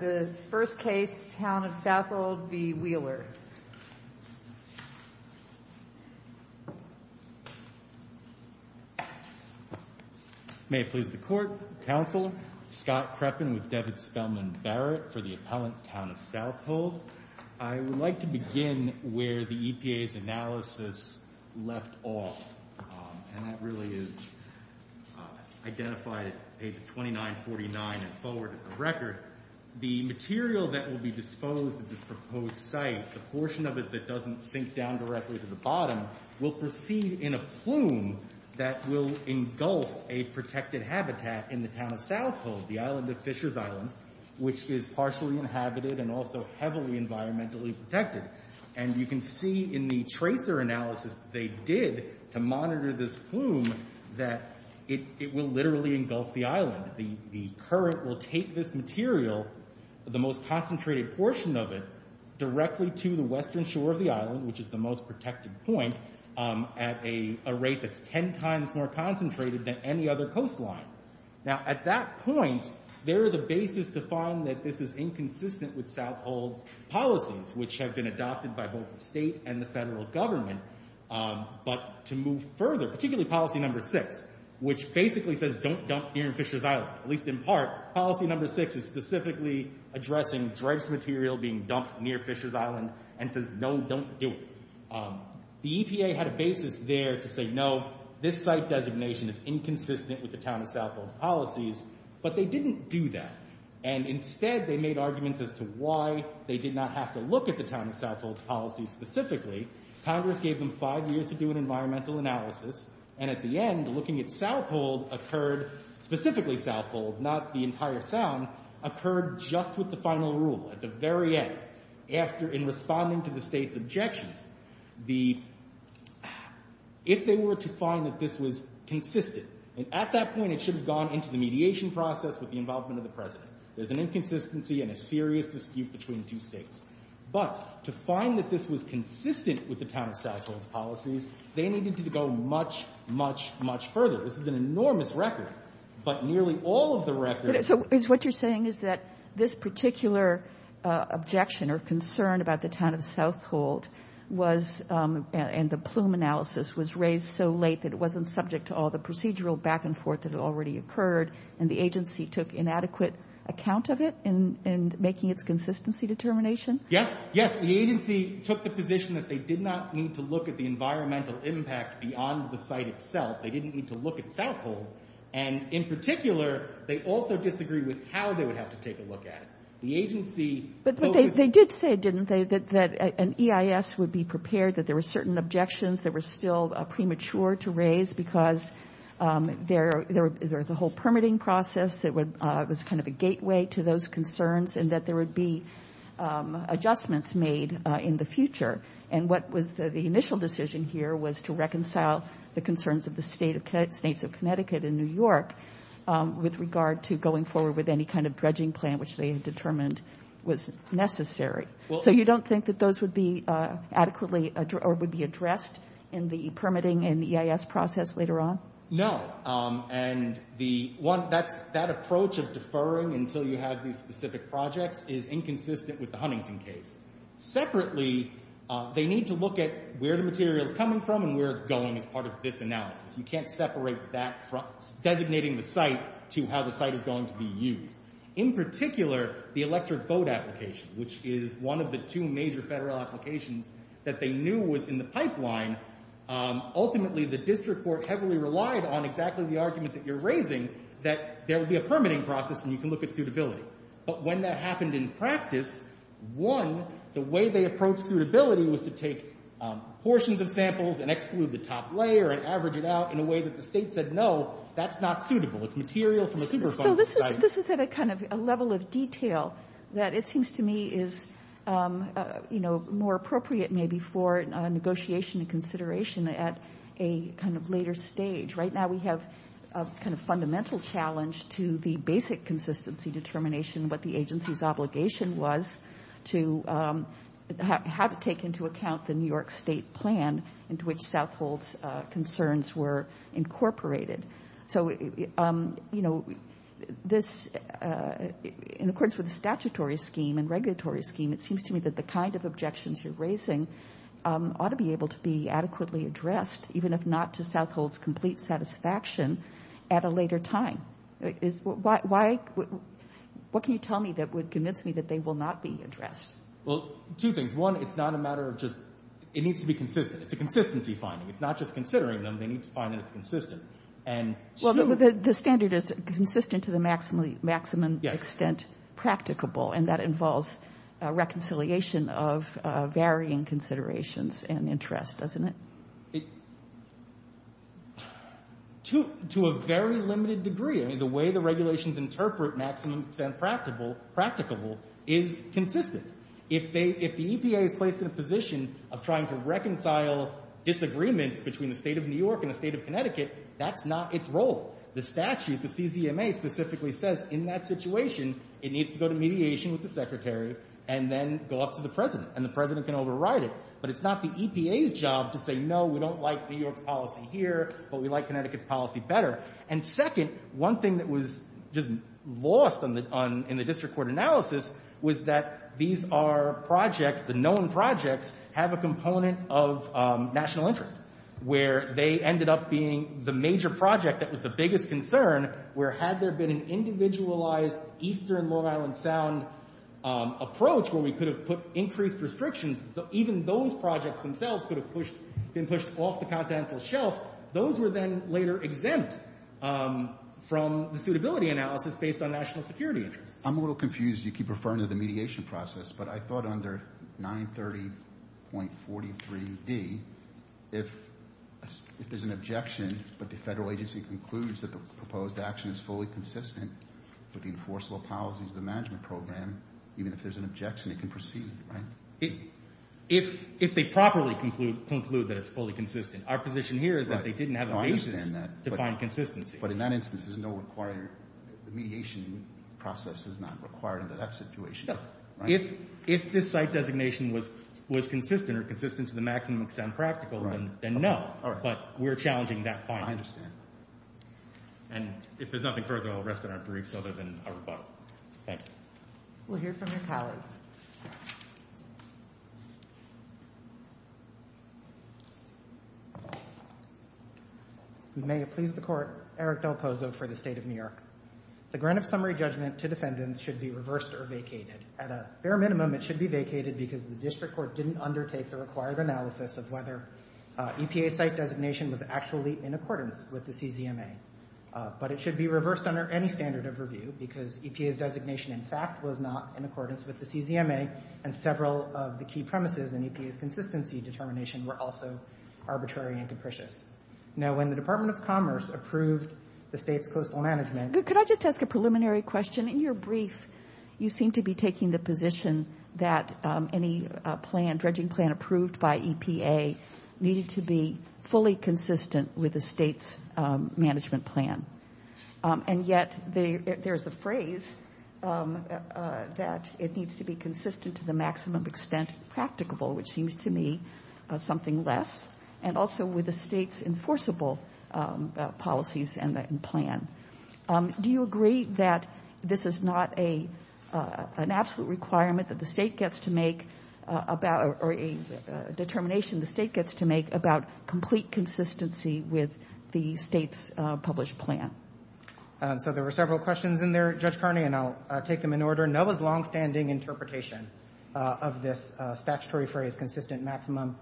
The first case, Town of South Hold v. Wheeler May it please the Court, Counsel, Scott Kreppen with David Spellman Barrett for the appellant Town of South Hold. I would like to begin where the EPA's analysis left off, and that really is identified at page 2949 and forward of the record. The material that will be disposed at this proposed site, the portion of it that doesn't sink down directly to the bottom, will proceed in a plume that will engulf a protected habitat in the Town of South Hold, the island of Fishers Island, which is partially inhabited and also heavily environmentally protected. And you can see in the tracer analysis they did to monitor this plume that it will literally engulf the island. The current will take this material, the most concentrated portion of it, directly to the western shore of the island, which is the most protected point, at a rate that's ten times more concentrated than any other coastline. Now at that point, there is a basis to find that this is inconsistent with South Hold's policies, which have been adopted by both the state and the federal government. But to move further, particularly policy number six, which basically says don't dump near Fishers Island, at least in part, policy number six is specifically addressing dredged material being dumped near Fishers Island, and says no, don't do it. The EPA had a basis there to say no, this site designation is inconsistent with the Town of South Hold's policies, but they didn't do that, and instead they made arguments as to why they did not have to look at the Town of South Hold's policies specifically. Congress gave them five years to do an environmental analysis, and at the end, looking at South Hold occurred, specifically South Hold, not the entire Sound, occurred just with the final rule. At the very end, after, in responding to the state's objections, the, if they were to find that this was consistent, and at that point it should have gone into the mediation process with the involvement of the President. There's an inconsistency and a serious dispute between two states. But to find that this was consistent with the Town of South Hold's policies, they needed to go much, much, much further. This is an enormous record, but nearly all of the record. So what you're saying is that this particular objection or concern about the Town of South Hold was, and the plume analysis was raised so late that it wasn't subject to all the procedural back and forth that had already occurred, and the agency took inadequate account of it in making its consistency determination? Yes. Yes. The agency took the position that they did not need to look at the environmental impact beyond the site itself. They didn't need to look at South Hold. And in particular, they also disagreed with how they would have to take a look at it. The agency... But they did say, didn't they, that an EIS would be prepared, that there were certain objections that were still premature to raise because there's a whole permitting process that was kind of a gateway to those concerns, and that there would be adjustments made in the future. And what was the initial decision here was to reconcile the concerns of the states of Connecticut and New York with regard to going forward with any kind of dredging plan which they had determined was necessary. So you don't think that those would be adequately, or would be addressed in the permitting and the EIS process later on? No. And that approach of deferring until you have these specific projects is inconsistent with the Huntington case. Separately, they need to look at where the material is coming from and where it's going as part of this analysis. You can't separate that from designating the site to how the site is going to be used. In particular, the electric boat application, which is one of the two major federal applications that they knew was in the pipeline, ultimately the district court heavily relied on exactly the argument that you're raising, that there would be a permitting process and you can look at suitability. But when that happened in practice, one, the way they approached suitability was to take portions of samples and exclude the top layer and average it out in a way that the state said no, that's not suitable. It's material from a superfund site. This is at a level of detail that it seems to me is more appropriate maybe for negotiation and consideration at a later stage. Right now we have a fundamental challenge to the basic consistency determination, what the agency's obligation was to have taken into account the New York State plan into which Southhold's concerns were incorporated. So in accordance with the statutory scheme and regulatory scheme, it seems to me that the kind of objections you're raising ought to be able to be adequately addressed, even if not to Southhold's complete satisfaction at a later time. What can you tell me that would convince me that they will not be addressed? Well, two things. One, it's not a matter of just, it needs to be consistent. It's a consistency finding. It's not just considering them. They need to find that it's consistent. Well, the standard is consistent to the maximum extent practicable, and that involves reconciliation of varying considerations and interests, doesn't it? To a very limited degree. The way the regulations interpret maximum extent practicable is consistent. If the EPA is placed in a position of trying to reconcile disagreements between the State of New York and the State of Connecticut, that's not its role. The statute, the CZMA, specifically says in that situation it needs to go to mediation with the Secretary and then go up to the President, and the President can override it. But it's not the EPA's job to say, no, we don't like New York's policy here, but we like Connecticut's policy better. And second, one thing that was just lost in the district court analysis was that these are projects, the known projects, have a component of national interest, where they ended up being the major project that was the biggest concern, where had there been an individualized Eastern Long Island Sound approach where we could have put increased restrictions, even those projects themselves could have been pushed off the continental shelf, those were then later exempt from the suitability analysis based on national security interests. I'm a little confused. You keep referring to the mediation process, but I thought under 930.43d, if there's an objection, but the federal agency concludes that the proposed action is fully consistent with the enforceable policies of the management program, even if there's an objection, it can proceed, right? If they properly conclude that it's fully consistent. Our position here is that they didn't have a basis to find consistency. But in that instance, there's no required, the mediation process is not required under that situation. No. If this site designation was consistent or consistent to the maximum extent practical, then no, but we're challenging that finding. I understand. And if there's nothing further, I'll rest it on briefs other than a rebuttal. Thank you. We'll hear from your colleague. May it please the court, Eric Del Pozo for the State of New York. The grant of summary judgment to defendants should be reversed or vacated. At a bare minimum, it should be vacated because the district court didn't undertake the required analysis of whether EPA site designation was actually in accordance with the CZMA. But it should be reversed under any standard of review because EPA's designation in fact was not in accordance with the CZMA and several of the key premises in EPA's consistency determination were also arbitrary and capricious. Now, when the Department of Commerce approved the state's coastal management... Could I just ask a preliminary question? In your brief, you seem to be taking the position that any plan, dredging plan approved by EPA needed to be fully consistent with the state's management plan. And yet, there's a phrase that it needs to be consistent to the maximum extent practicable, which seems to me something less. And also with the state's enforceable policies and plan. Do you agree that this is not an absolute requirement that the state gets to make about... Or a determination the state gets to make about complete consistency with the state's published plan? So there were several questions in there, Judge Carney, and I'll take them in order. Under NOAA's longstanding interpretation of this statutory phrase, consistent maximum...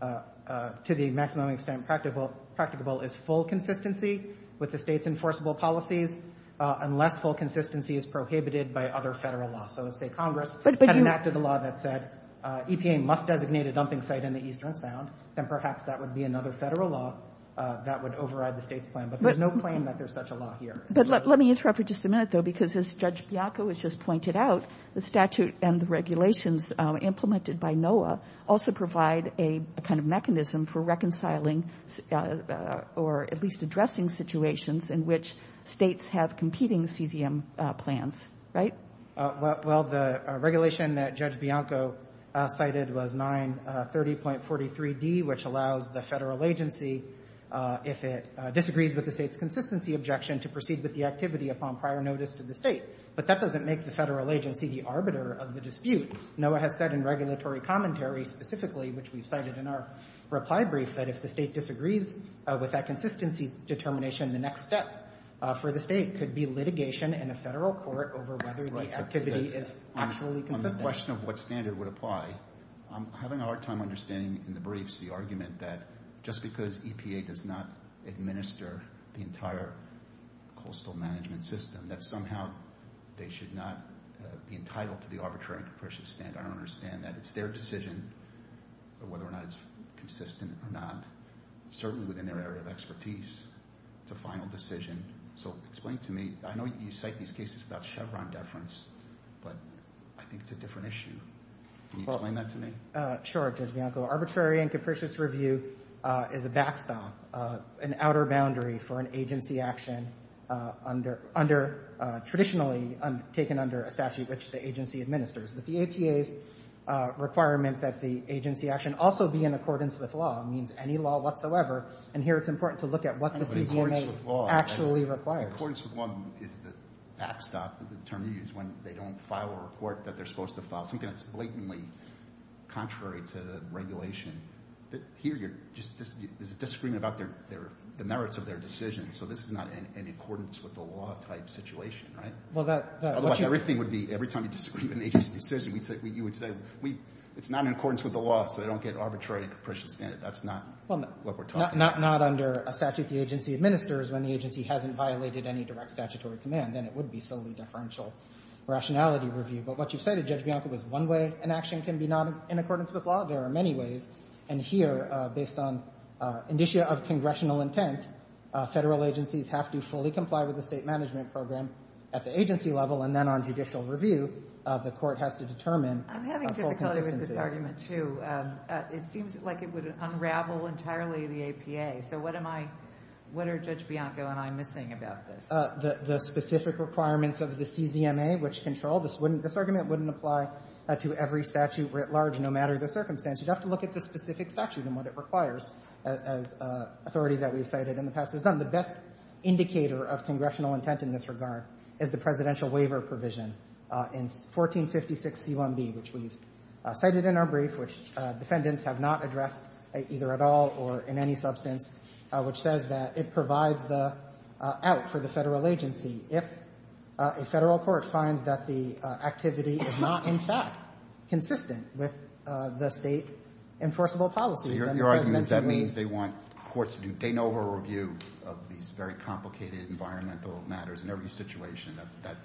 To the maximum extent practicable is full consistency with the state's enforceable policies unless full consistency is prohibited by other federal laws. So let's say Congress had enacted a law that said EPA must designate a dumping site in the Eastern Sound, then perhaps that would be another federal law that would override the state's plan. But there's no claim that there's such a law here. But let me interrupt for just a minute, though, because as Judge Bianco has just pointed out, the statute and the regulations implemented by NOAA also provide a kind of mechanism for reconciling or at least addressing situations in which states have competing CCM plans, right? Well, the regulation that Judge Bianco cited was 930.43d, which allows the federal agency, if it disagrees with the state's consistency objection, to proceed with the activity upon prior notice to the state. But that doesn't make the federal agency the arbiter of the dispute. NOAA has said in regulatory commentary specifically, which we've cited in our reply brief, that if the state disagrees with that consistency determination, the next step for the state could be litigation in a federal court over whether the activity is actually consistent. On the question of what standard would apply, I'm having a hard time understanding in the sense that EPA does not administer the entire coastal management system, that somehow they should not be entitled to the arbitrary and capricious stand. I understand that it's their decision whether or not it's consistent or not, certainly within their area of expertise. It's a final decision. So explain to me, I know you cite these cases about Chevron deference, but I think it's a different issue. Can you explain that to me? Sure, Judge Bianco. Arbitrary and capricious review is a backstop, an outer boundary for an agency action traditionally taken under a statute which the agency administers. But the EPA's requirement that the agency action also be in accordance with law means any law whatsoever. And here it's important to look at what the CCMA actually requires. But accordance with law is the backstop, the term you use when they don't file a report that they're supposed to file, something that's blatantly contrary to regulation. Here there's a disagreement about the merits of their decision. So this is not in accordance with the law type situation, right? Everything would be, every time you disagree with an agency's decision, you would say, it's not in accordance with the law, so they don't get arbitrary and capricious in it. That's not what we're talking about. Not under a statute the agency administers when the agency hasn't violated any direct statutory command. Then it would be solely deferential rationality review. But what you've said, Judge Bianco, is one way an action can be not in accordance with law. There are many ways. And here, based on indicia of congressional intent, federal agencies have to fully comply with the state management program at the agency level. And then on judicial review, the court has to determine full consistency. I'm having difficulty with this argument, too. It seems like it would unravel entirely the APA. So what am I, what are Judge Bianco and I missing about this? The specific requirements of the CZMA, which control, this wouldn't, this argument wouldn't apply to every statute writ large, no matter the circumstance. You'd have to look at the specific statute and what it requires as authority that we've cited in the past. It's not the best indicator of congressional intent in this regard, is the presidential waiver provision in 1456C1B, which we've cited in our brief, which defendants have not addressed either at all or in any substance, which says that it provides the out for the federal agency. If a federal court finds that the activity is not, in fact, consistent with the state enforceable policies, then the presidential waiver. Your argument is that means they want courts to do de novo review of these very complicated environmental matters in every situation.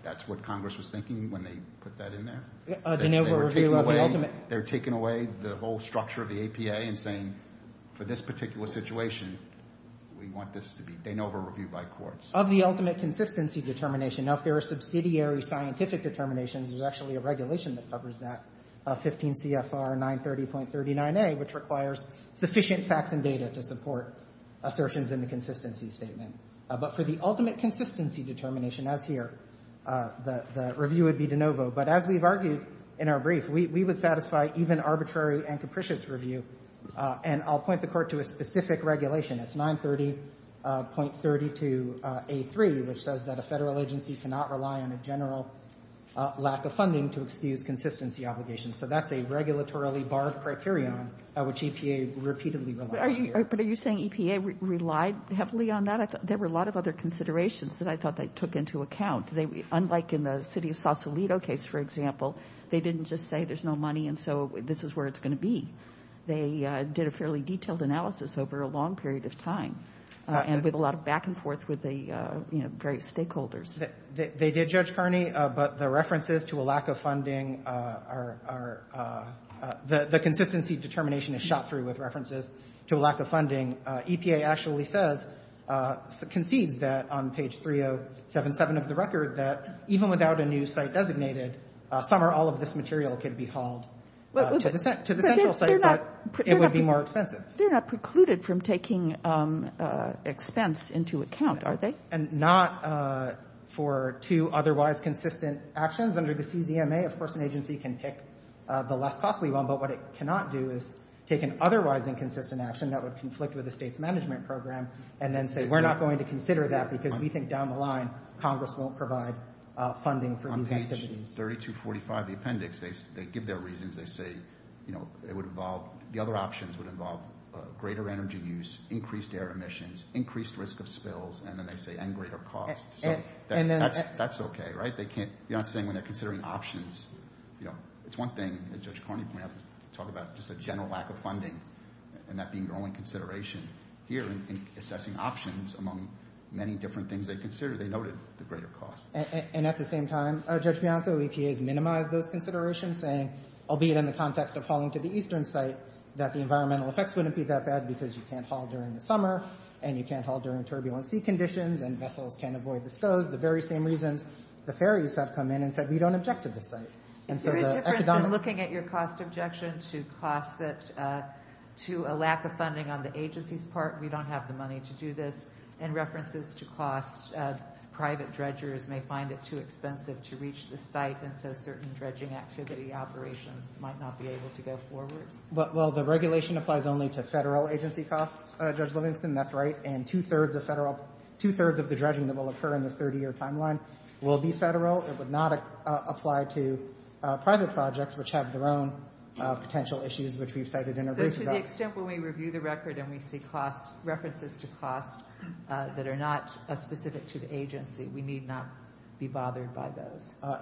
That's what Congress was thinking when they put that in there? A de novo review of the ultimate. They're taking away the whole structure of the APA and saying, for this particular situation, we want this to be de novo review by courts. Of the ultimate consistency determination, now, if there are subsidiary scientific determinations, there's actually a regulation that covers that, 15 CFR 930.39A, which requires sufficient facts and data to support assertions in the consistency statement. But for the ultimate consistency determination, as here, the review would be de novo. But as we've argued in our brief, we would satisfy even arbitrary and capricious review. And I'll point the Court to a specific regulation. It's 930.32A3, which says that a federal agency cannot rely on a general lack of funding to excuse consistency obligations. So that's a regulatorily barred criterion, which EPA repeatedly relied on here. But are you saying EPA relied heavily on that? There were a lot of other considerations that I thought they took into account. Unlike in the city of Sausalito case, for example, they didn't just say there's no money and so this is where it's going to be. They did a fairly detailed analysis over a long period of time and with a lot of back and forth with the various stakeholders. They did, Judge Kearney, but the references to a lack of funding are, the consistency determination is shot through with references to a lack of funding. EPA actually says, concedes that on page 3077 of the record, that even without a new site designated, some or all of this material could be hauled to the central government. It would be more expensive. They're not precluded from taking expense into account, are they? And not for two otherwise consistent actions under the CZMA. Of course, an agency can pick the less cost we want, but what it cannot do is take an otherwise inconsistent action that would conflict with the state's management program and then say, we're not going to consider that because we think down the line Congress won't provide funding for these activities. In 3245, the appendix, they give their reasons, they say, you know, it would involve, the other options would involve greater energy use, increased air emissions, increased risk of spills, and then they say, and greater cost. That's okay, right? They can't, you know what I'm saying, when they're considering options, you know, it's one thing that Judge Kearney pointed out, to talk about just a general lack of funding and that being your only consideration here in assessing options among many different things they consider, they noted the greater cost. And at the same time, Judge Bianco, EPA has minimized those considerations, saying, albeit in the context of hauling to the eastern site, that the environmental effects wouldn't be that bad because you can't haul during the summer, and you can't haul during turbulent sea conditions, and vessels can't avoid the stows, the very same reasons the ferries have come in and said, we don't object to this site. And so the economic- It's very different than looking at your cost objection to cost that, to a lack of funding on the agency's part, we don't have the money to do this, and references to cost, private dredgers may find it too expensive to reach the site, and so certain dredging activity operations might not be able to go forward. Well, the regulation applies only to federal agency costs, Judge Livingston, that's right, and two-thirds of the dredging that will occur in this 30-year timeline will be federal. It would not apply to private projects, which have their own potential issues, which we've cited in a recent- So to the extent when we review the record and we see cost, references to cost that are not as specific to the agency, we need not be bothered by those. I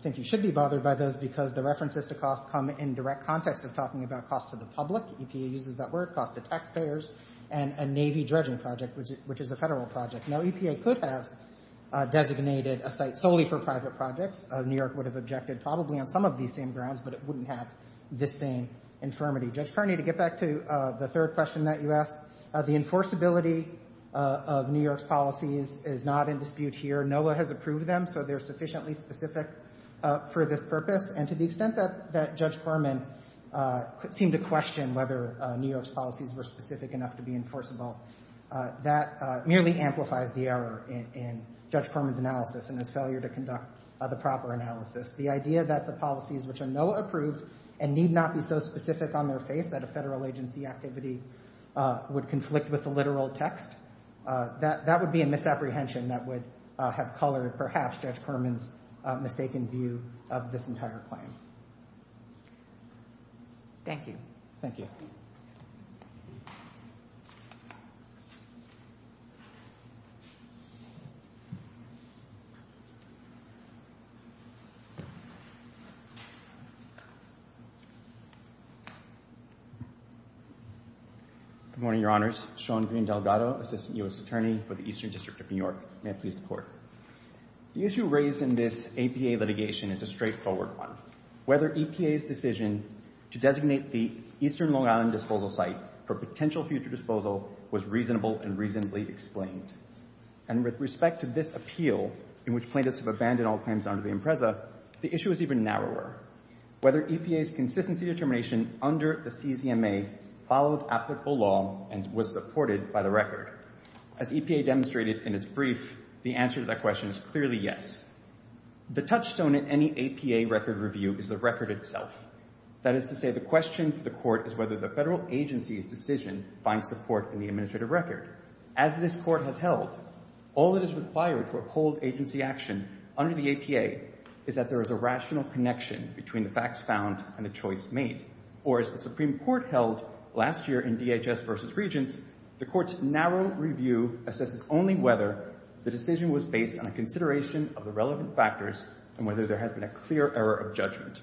think you should be bothered by those because the references to cost come in direct context of talking about cost to the public, EPA uses that word, cost to taxpayers, and a Navy dredging project, which is a federal project. Now, EPA could have designated a site solely for private projects, New York would have objected probably on some of these same grounds, but it wouldn't have this same infirmity. Judge Kearney, to get back to the third question that you asked, the enforceability of New York's policies is not in dispute here. NOAA has approved them, so they're sufficiently specific for this purpose, and to the extent that Judge Perlman seemed to question whether New York's policies were specific enough to be enforceable, that merely amplifies the error in Judge Perlman's analysis and his failure to conduct the proper analysis. The idea that the policies which are NOAA approved and need not be so specific on their face that a federal agency activity would conflict with the literal text, that would be a misapprehension that would have colored, perhaps, Judge Perlman's mistaken view of this entire claim. Thank you. Thank you. Good morning, Your Honors. Sean Green Delgado, Assistant U.S. Attorney for the Eastern District of New York. May I please report? The issue raised in this APA litigation is a straightforward one. Whether EPA's decision to designate the Eastern Long Island Disposal Site for potential future disposal was reasonable and reasonably explained. And with respect to this appeal, in which plaintiffs have abandoned all claims under the Impreza, the issue is even narrower. Whether EPA's consistency determination under the CZMA followed applicable law and was supported by the record. As EPA demonstrated in its brief, the answer to that question is clearly yes. The touchstone in any APA record review is the record itself. That is to say, the question for the Court is whether the federal agency's decision finds support in the administrative record. As this Court has held, all that is required to uphold agency action under the APA is that there is a rational connection between the facts found and the choice made. Or as the Supreme Court held last year in DHS v. Regents, the Court's narrow review assesses only whether the decision was based on a consideration of the relevant factors and whether there has been a clear error of judgment.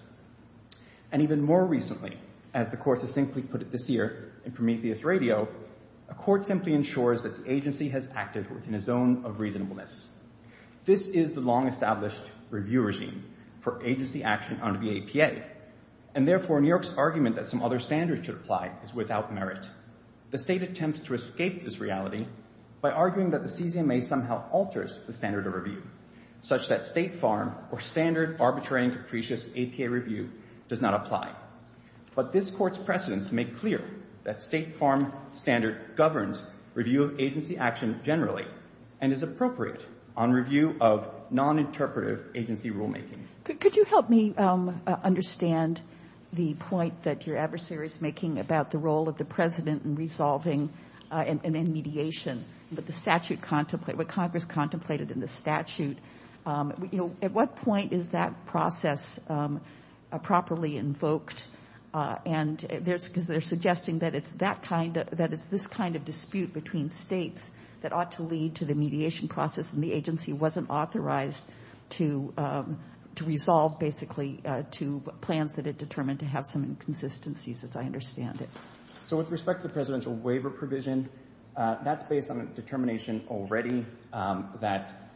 And even more recently, as the Court succinctly put it this year in Prometheus Radio, a court simply ensures that the agency has acted within a zone of reasonableness. This is the long-established review regime for agency action under the APA. And therefore, New York's argument that some other standards should apply is without merit. The State attempts to escape this reality by arguing that the CZMA somehow alters the standard of review, such that State Farm or standard arbitrary and capricious APA review does not apply. But this Court's precedents make clear that State Farm standard governs review of agency action generally and is appropriate on review of noninterpretive agency rulemaking. Could you help me understand the point that your adversary is making about the role of the President in resolving and in mediation, what Congress contemplated in the statute? At what point is that process properly invoked? And they're suggesting that it's this kind of dispute between States that ought to lead to the mediation process and the agency wasn't authorized to resolve basically to plans that determined to have some inconsistencies as I understand it. So with respect to the presidential waiver provision, that's based on a determination already that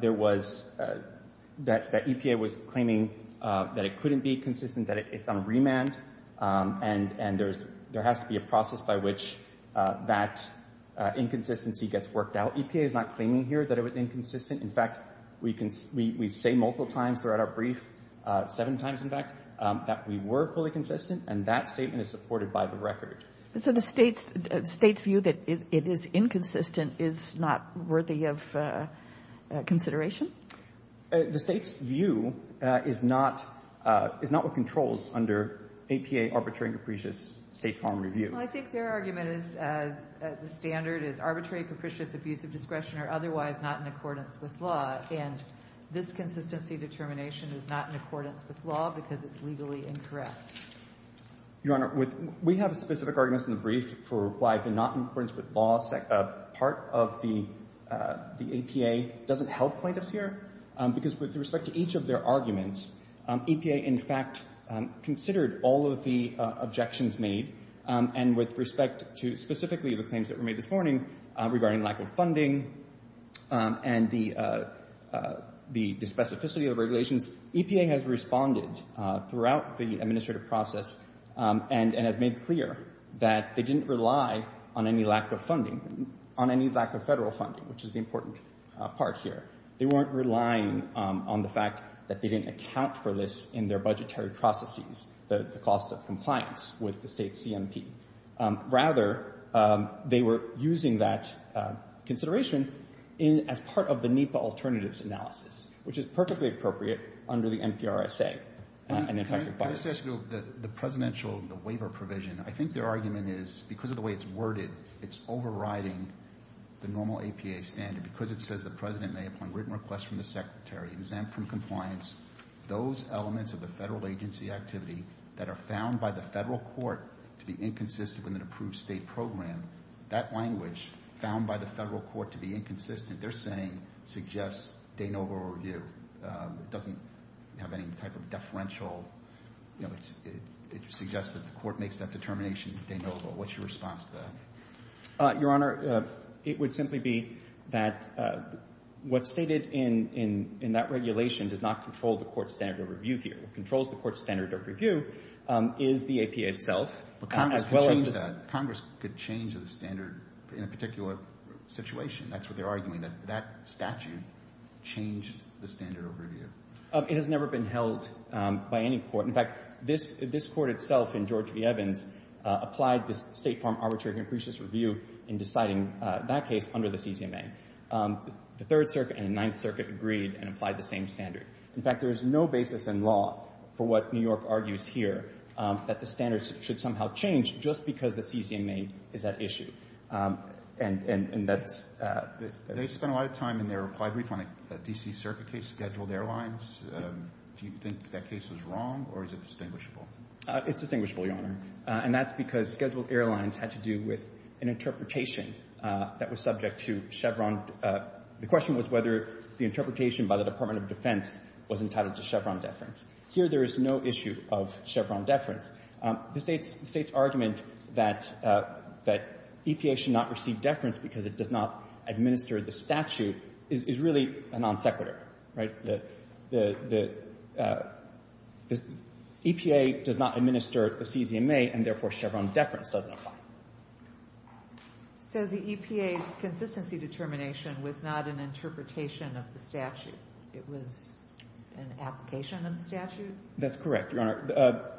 there was, that EPA was claiming that it couldn't be consistent, that it's on remand and there has to be a process by which that inconsistency gets worked out. EPA is not claiming here that it was inconsistent. In fact, we say multiple times throughout our brief, seven times in fact, that we were fully consistent and that statement is supported by the record. So the State's view that it is inconsistent is not worthy of consideration? The State's view is not what controls under APA arbitrary and capricious State Farm review. Well, I think their argument is the standard is arbitrary, capricious, abuse of discretion or otherwise not in accordance with law. And this consistency determination is not in accordance with law because it's legally incorrect. Your Honor, we have a specific argument in the brief for why it's not in accordance with law. Part of the APA doesn't help plaintiffs here because with respect to each of their arguments, APA in fact considered all of the objections made and with respect to specifically the lack of funding and the specificity of regulations, EPA has responded throughout the administrative process and has made clear that they didn't rely on any lack of funding, on any lack of federal funding, which is the important part here. They weren't relying on the fact that they didn't account for this in their budgetary processes, the cost of compliance with the State's CMP. Rather, they were using that consideration as part of the NEPA alternatives analysis, which is perfectly appropriate under the NPRSA and, in fact, requires it. Can I just ask you, the presidential waiver provision, I think their argument is because of the way it's worded, it's overriding the normal APA standard because it says the President may appoint written requests from the Secretary exempt from compliance, those elements of inconsistent with an approved State program, that language found by the federal court to be inconsistent, they're saying, suggests de novo review. It doesn't have any type of deferential, it suggests that the court makes that determination de novo. What's your response to that? Your Honor, it would simply be that what's stated in that regulation does not control the court's standard of review here. What controls the court's standard of review is the APA itself, as well as the State. Congress could change the standard in a particular situation, that's what they're arguing, that that statute changed the standard of review. It has never been held by any court. In fact, this court itself in George v. Evans applied this State Farm Arbitrary Increases Review in deciding that case under the CCMA. The Third Circuit and the Ninth Circuit agreed and applied the same standard. In fact, there is no basis in law for what New York argues here, that the standards should somehow change just because the CCMA is at issue. And that's… They spent a lot of time in their reply brief on a D.C. Circuit case, Scheduled Airlines. Do you think that case was wrong or is it distinguishable? It's distinguishable, Your Honor. And that's because Scheduled Airlines had to do with an interpretation that was subject to Chevron. The question was whether the interpretation by the Department of Defense was entitled to Chevron deference. Here, there is no issue of Chevron deference. The State's argument that EPA should not receive deference because it does not administer the statute is really a non sequitur, right? The EPA does not administer the CCMA, and therefore Chevron deference doesn't apply. So the EPA's consistency determination was not an interpretation of the statute. It was an application of the statute? That's correct, Your Honor.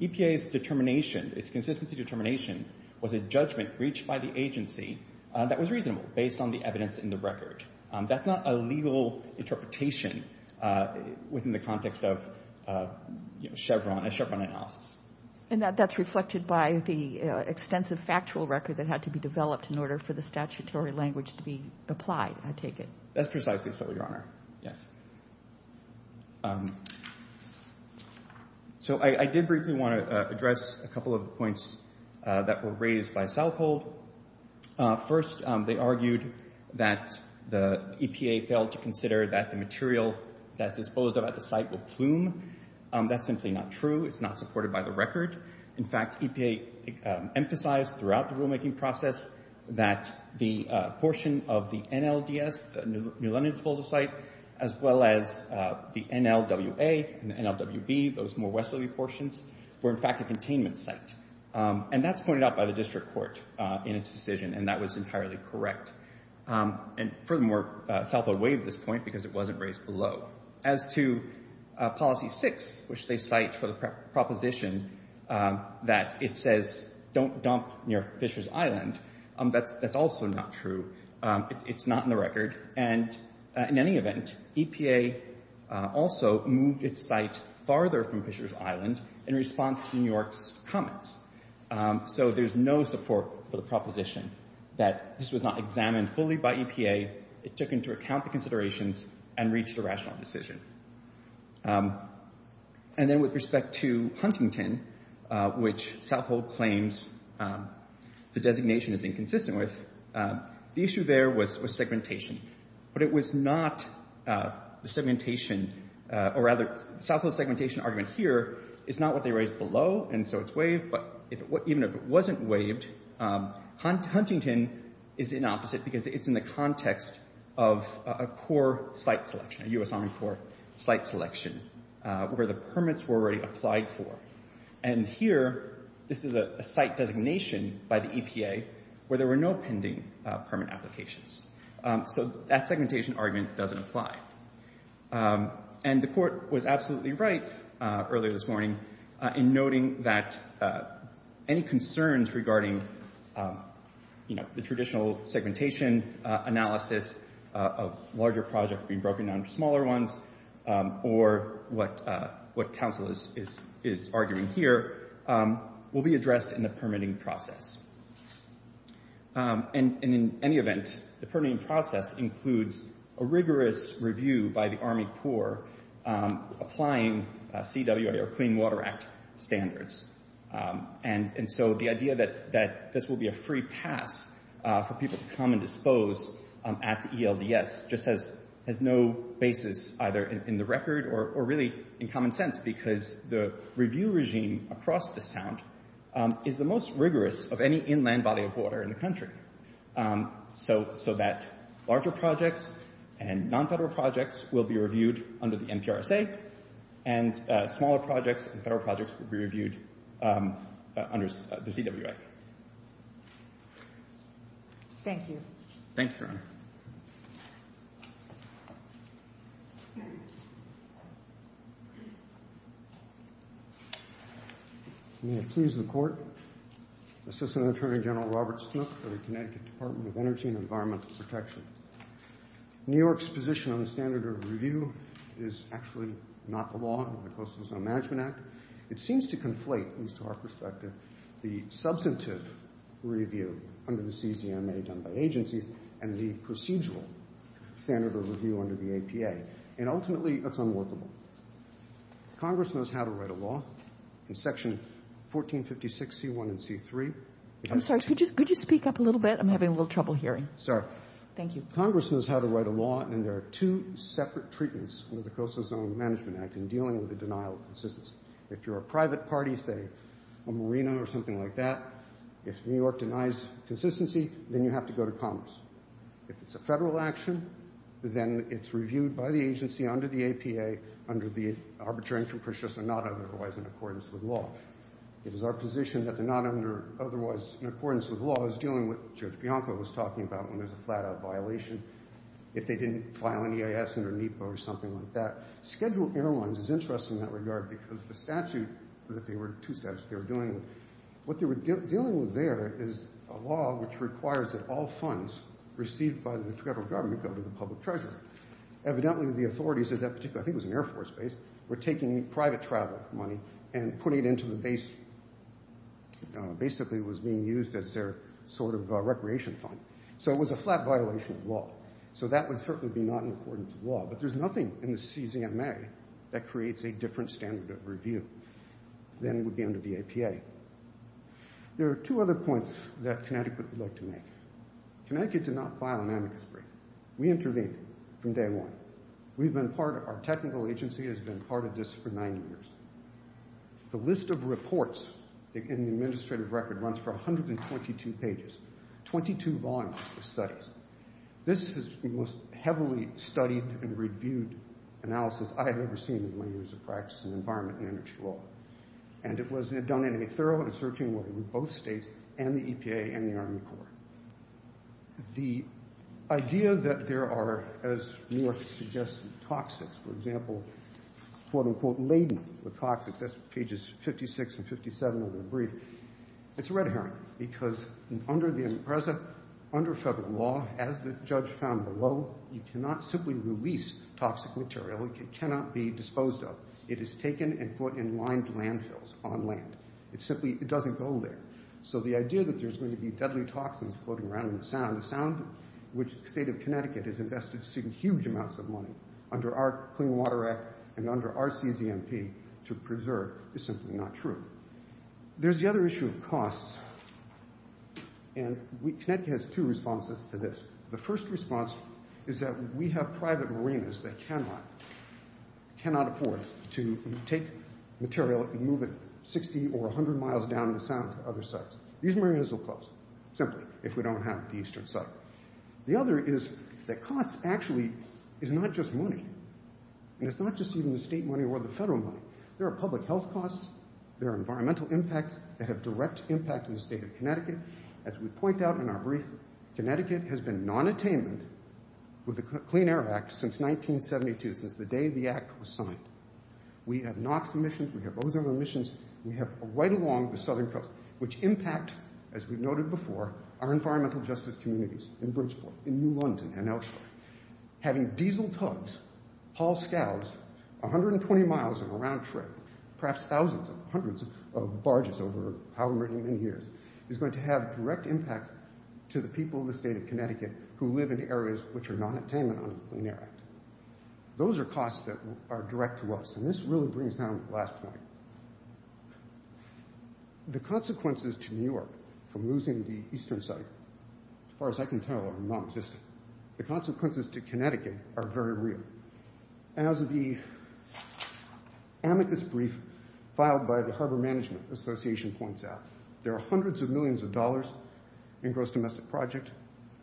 EPA's determination, its consistency determination, was a judgment reached by the agency that was reasonable based on the evidence in the record. That's not a legal interpretation within the context of Chevron, a Chevron analysis. And that's reflected by the extensive factual record that had to be developed in order for the statutory language to be applied, I take it? That's precisely so, Your Honor. Yes. So I did briefly want to address a couple of points that were raised by Southhold. First, they argued that the EPA failed to consider that the material that's disposed of at the site will plume. That's simply not true. It's not supported by the record. In fact, EPA emphasized throughout the rulemaking process that the portion of the NLDS, New London Disposal Site, as well as the NLWA and the NLWB, those more westerly portions, were in fact a containment site. And that's pointed out by the district court in its decision, and that was entirely correct. And furthermore, Southhold waived this point because it wasn't raised below. So as to Policy 6, which they cite for the proposition that it says don't dump near Fishers Island, that's also not true. It's not in the record. And in any event, EPA also moved its site farther from Fishers Island in response to New York's comments. So there's no support for the proposition that this was not examined fully by EPA, it took into account the considerations, and reached a rational decision. And then with respect to Huntington, which Southhold claims the designation is inconsistent with, the issue there was segmentation. But it was not the segmentation, or rather Southhold's segmentation argument here is not what if it wasn't waived, Huntington is the opposite because it's in the context of a core site selection, a U.S. Army Corps site selection, where the permits were already applied for. And here, this is a site designation by the EPA where there were no pending permit applications. So that segmentation argument doesn't apply. And the court was absolutely right earlier this morning in noting that any concerns regarding the traditional segmentation analysis of larger projects being broken down into smaller ones, or what counsel is arguing here, will be addressed in the permitting process. And in any event, the permitting process includes a rigorous review by the Army Corps applying CWA, or Clean Water Act, standards. And so the idea that this will be a free pass for people to come and dispose at the ELDS just has no basis either in the record or really in common sense because the review regime across the Sound is the most rigorous of any inland body of water in the country. So that larger projects and non-federal projects will be reviewed under the NPRSA, and smaller projects and federal projects will be reviewed under the CWA. Thank you, Your Honor. May it please the Court, Assistant Attorney General Robert Smith for the Connecticut Department of Energy and Environmental Protection. New York's position on the standard of review is actually not the law of the Coastal Zone Management Act. It seems to conflate, at least to our perspective, the substantive review under the CCMA done by agencies and the procedural standard of review under the APA. And ultimately, that's unworkable. Congress knows how to write a law in Section 1456C1 and C3. I'm sorry, could you speak up a little bit? I'm having a little trouble hearing. Sorry. Thank you. Congress knows how to write a law, and there are two separate treatments under the Coastal Zone Management Act in dealing with the denial of consistency. If you're a private party, say a marina or something like that, if New York denies consistency, then you have to go to Commerce. If it's a federal action, then it's reviewed by the agency under the APA under the Arbitrary Income Procedures that are not otherwise in accordance with law. It is our position that they're not otherwise in accordance with law as dealing with what Judge Bianco was talking about when there's a flat-out violation, if they didn't file an EIS under NEPA or something like that. Scheduled Airlines is interesting in that regard because the statute that they were two statutes they were dealing with, what they were dealing with there is a law which requires that all funds received by the federal government go to the public treasurer. Evidently, the authorities at that particular, I think it was an Air Force base, were taking private travel money and putting it into the base, basically it was being used as their sort of recreation fund. So it was a flat violation of law. So that would certainly be not in accordance with law. But there's nothing in the CCMA that creates a different standard of review than would be under the APA. There are two other points that Connecticut would like to make. Connecticut did not file an amicus brief. We intervened from day one. We've been part of, our technical agency has been part of this for nine years. The list of reports in the administrative record runs for 122 pages, 22 volumes of studies. This is the most heavily studied and reviewed analysis I have ever seen in my years of practice in environment and energy law. And it was done in a thorough and searching way with both states and the EPA and the Army Corps. The idea that there are, as Newark suggests, toxics, for example, quote, unquote, laden with toxics, that's pages 56 and 57 of the brief. It's a red herring because under the present, under federal law, as the judge found below, you cannot simply release toxic material. It cannot be disposed of. It is taken and put in lined landfills on land. It simply doesn't go there. So the idea that there's going to be deadly toxins floating around in the sound, a sound which the state of Connecticut has invested huge amounts of money under our Clean Water Act and under our CZMP to preserve is simply not true. There's the other issue of costs. And Connecticut has two responses to this. The first response is that we have private marinas that cannot afford to take material and move it 60 or 100 miles down the sound to other sites. These marinas will close simply if we don't have the eastern site. The other is that cost actually is not just money, and it's not just even the state money or the federal money. There are public health costs. As we point out in our brief, Connecticut has been nonattainment with the Clean Air Act since 1972, since the day the act was signed. We have NOx emissions. We have ozone emissions. We have right along the southern coast, which impact, as we've noted before, our environmental justice communities in Bridgeport, in New London, and elsewhere. Having diesel tugs haul scowls 120 miles on a round trip, perhaps thousands, hundreds of barges over however many years, is going to have direct impacts to the people of the state of Connecticut who live in areas which are nonattainment on the Clean Air Act. Those are costs that are direct to us, and this really brings down the last point. The consequences to New York from losing the eastern site, as far as I can tell, are nonexistent. The consequences to Connecticut are very real. As the amicus brief filed by the Harbor Management Association points out, there are hundreds of millions of dollars in gross domestic project,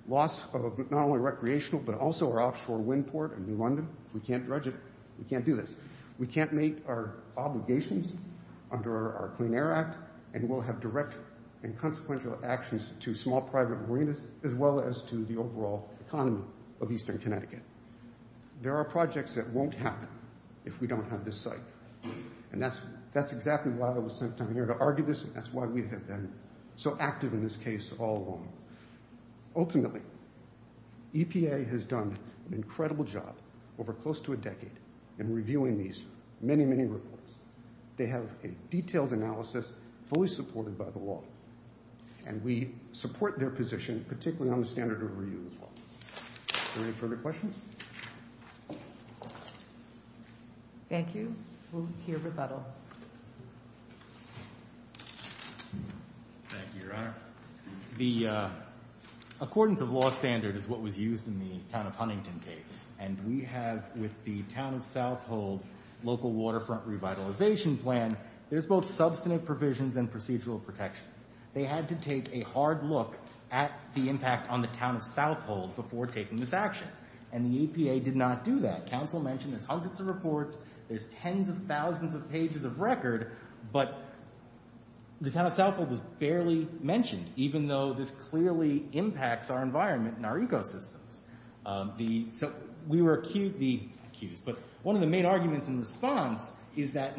loss of not only recreational but also our offshore wind port in New London. If we can't dredge it, we can't do this. We can't meet our obligations under our Clean Air Act, and we'll have direct and consequential actions to small private marinas as well as to the overall economy of eastern Connecticut. There are projects that won't happen if we don't have this site, and that's exactly why I was sent down here to argue this, and that's why we have been so active in this case all along. Ultimately, EPA has done an incredible job over close to a decade in reviewing these many, many reports. They have a detailed analysis fully supported by the law, and we support their position, particularly on the standard of reuse law. Are there any further questions? Thank you. We'll hear rebuttal. Thank you, Your Honor. The accordance of law standard is what was used in the town of Huntington case, and we have with the town of South Hold local waterfront revitalization plan, there's both substantive provisions and procedural protections. They had to take a hard look at the impact on the town of South Hold before taking this action, and the EPA did not do that. Council mentioned there's hundreds of reports, there's tens of thousands of pages of record, but the town of South Hold was barely mentioned, even though this clearly impacts our environment and our ecosystems. So we were accused, but one of the main arguments in response by the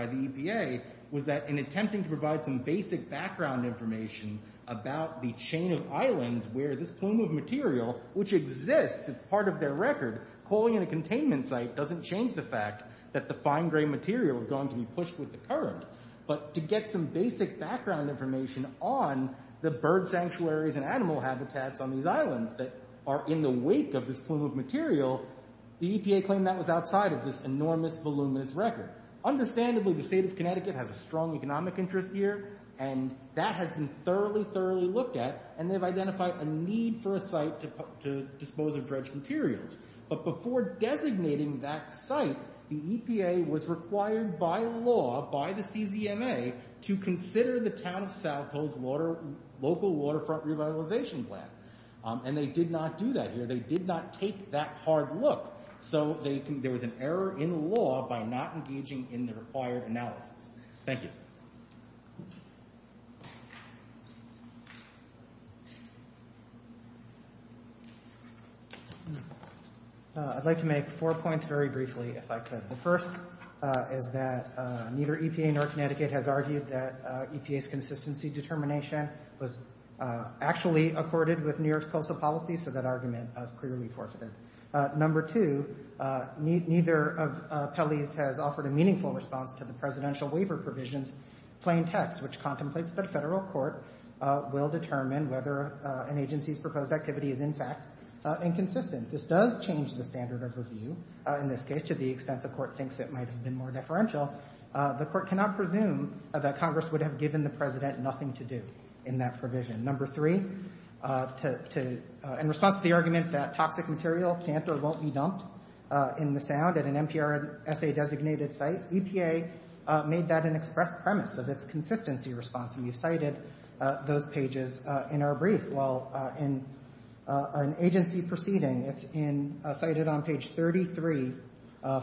EPA was that in attempting to provide some basic background information about the chain of islands where this plume of material, which exists, it's part of their record, calling it a containment site doesn't change the fact that the fine gray material is going to be pushed with the current. But to get some basic background information on the bird sanctuaries and animal habitats on these islands that are in the wake of this plume of material, the EPA claimed that was outside of this enormous, voluminous record. Understandably, the state of Connecticut has a strong economic interest here, and that has been thoroughly, thoroughly looked at, and they've identified a need for a site to dispose of dredged materials. But before designating that site, the EPA was required by law, by the CZMA, to consider the town of South Hold's local waterfront revitalization plan, and they did not do that here. They did not take that hard look. So there was an error in law by not engaging in the required analysis. Thank you. I'd like to make four points very briefly, if I could. The first is that neither EPA nor Connecticut has argued that EPA's consistency determination was actually accorded with New York's coastal policies, so that argument is clearly forfeited. Number two, neither of Pelley's has offered a meaningful response to the presidential waiver provision's plain text, which contemplates that a federal court will determine whether an agency's proposed activity is, in fact, inconsistent. This does change the standard of review, in this case, to the extent the court thinks it might have been more deferential. The court cannot presume that Congress would have given the president nothing to do in that provision. Number three, in response to the argument that toxic material can't or won't be dumped in the sound at an NPRSA-designated site, EPA made that an express premise of its consistency response, and you cited those pages in our brief. Well, in an agency proceeding, it's cited on page 33,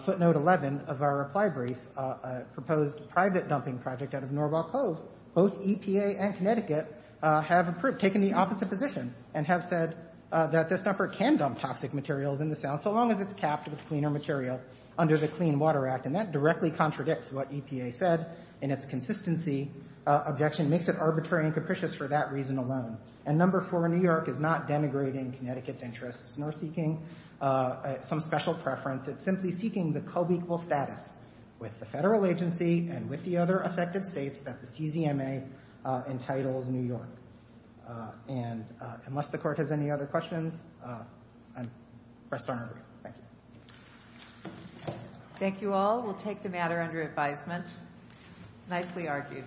footnote 11 of our reply brief, a proposed private dumping project out of Norval Cove, both EPA and Connecticut have taken the opposite position and have said that this number can dump toxic materials in the sound, so long as it's capped with cleaner material under the Clean Water Act, and that directly contradicts what EPA said in its consistency objection. It makes it arbitrary and capricious for that reason alone. And number four, New York is not denigrating Connecticut's interests nor seeking some special preference. It's simply seeking the co-equal status with the federal agency and with the other affected states that the CZMA entitles New York. And unless the Court has any other questions, I'm pressed on. Thank you. Thank you all. We'll take the matter under advisement. Nicely argued.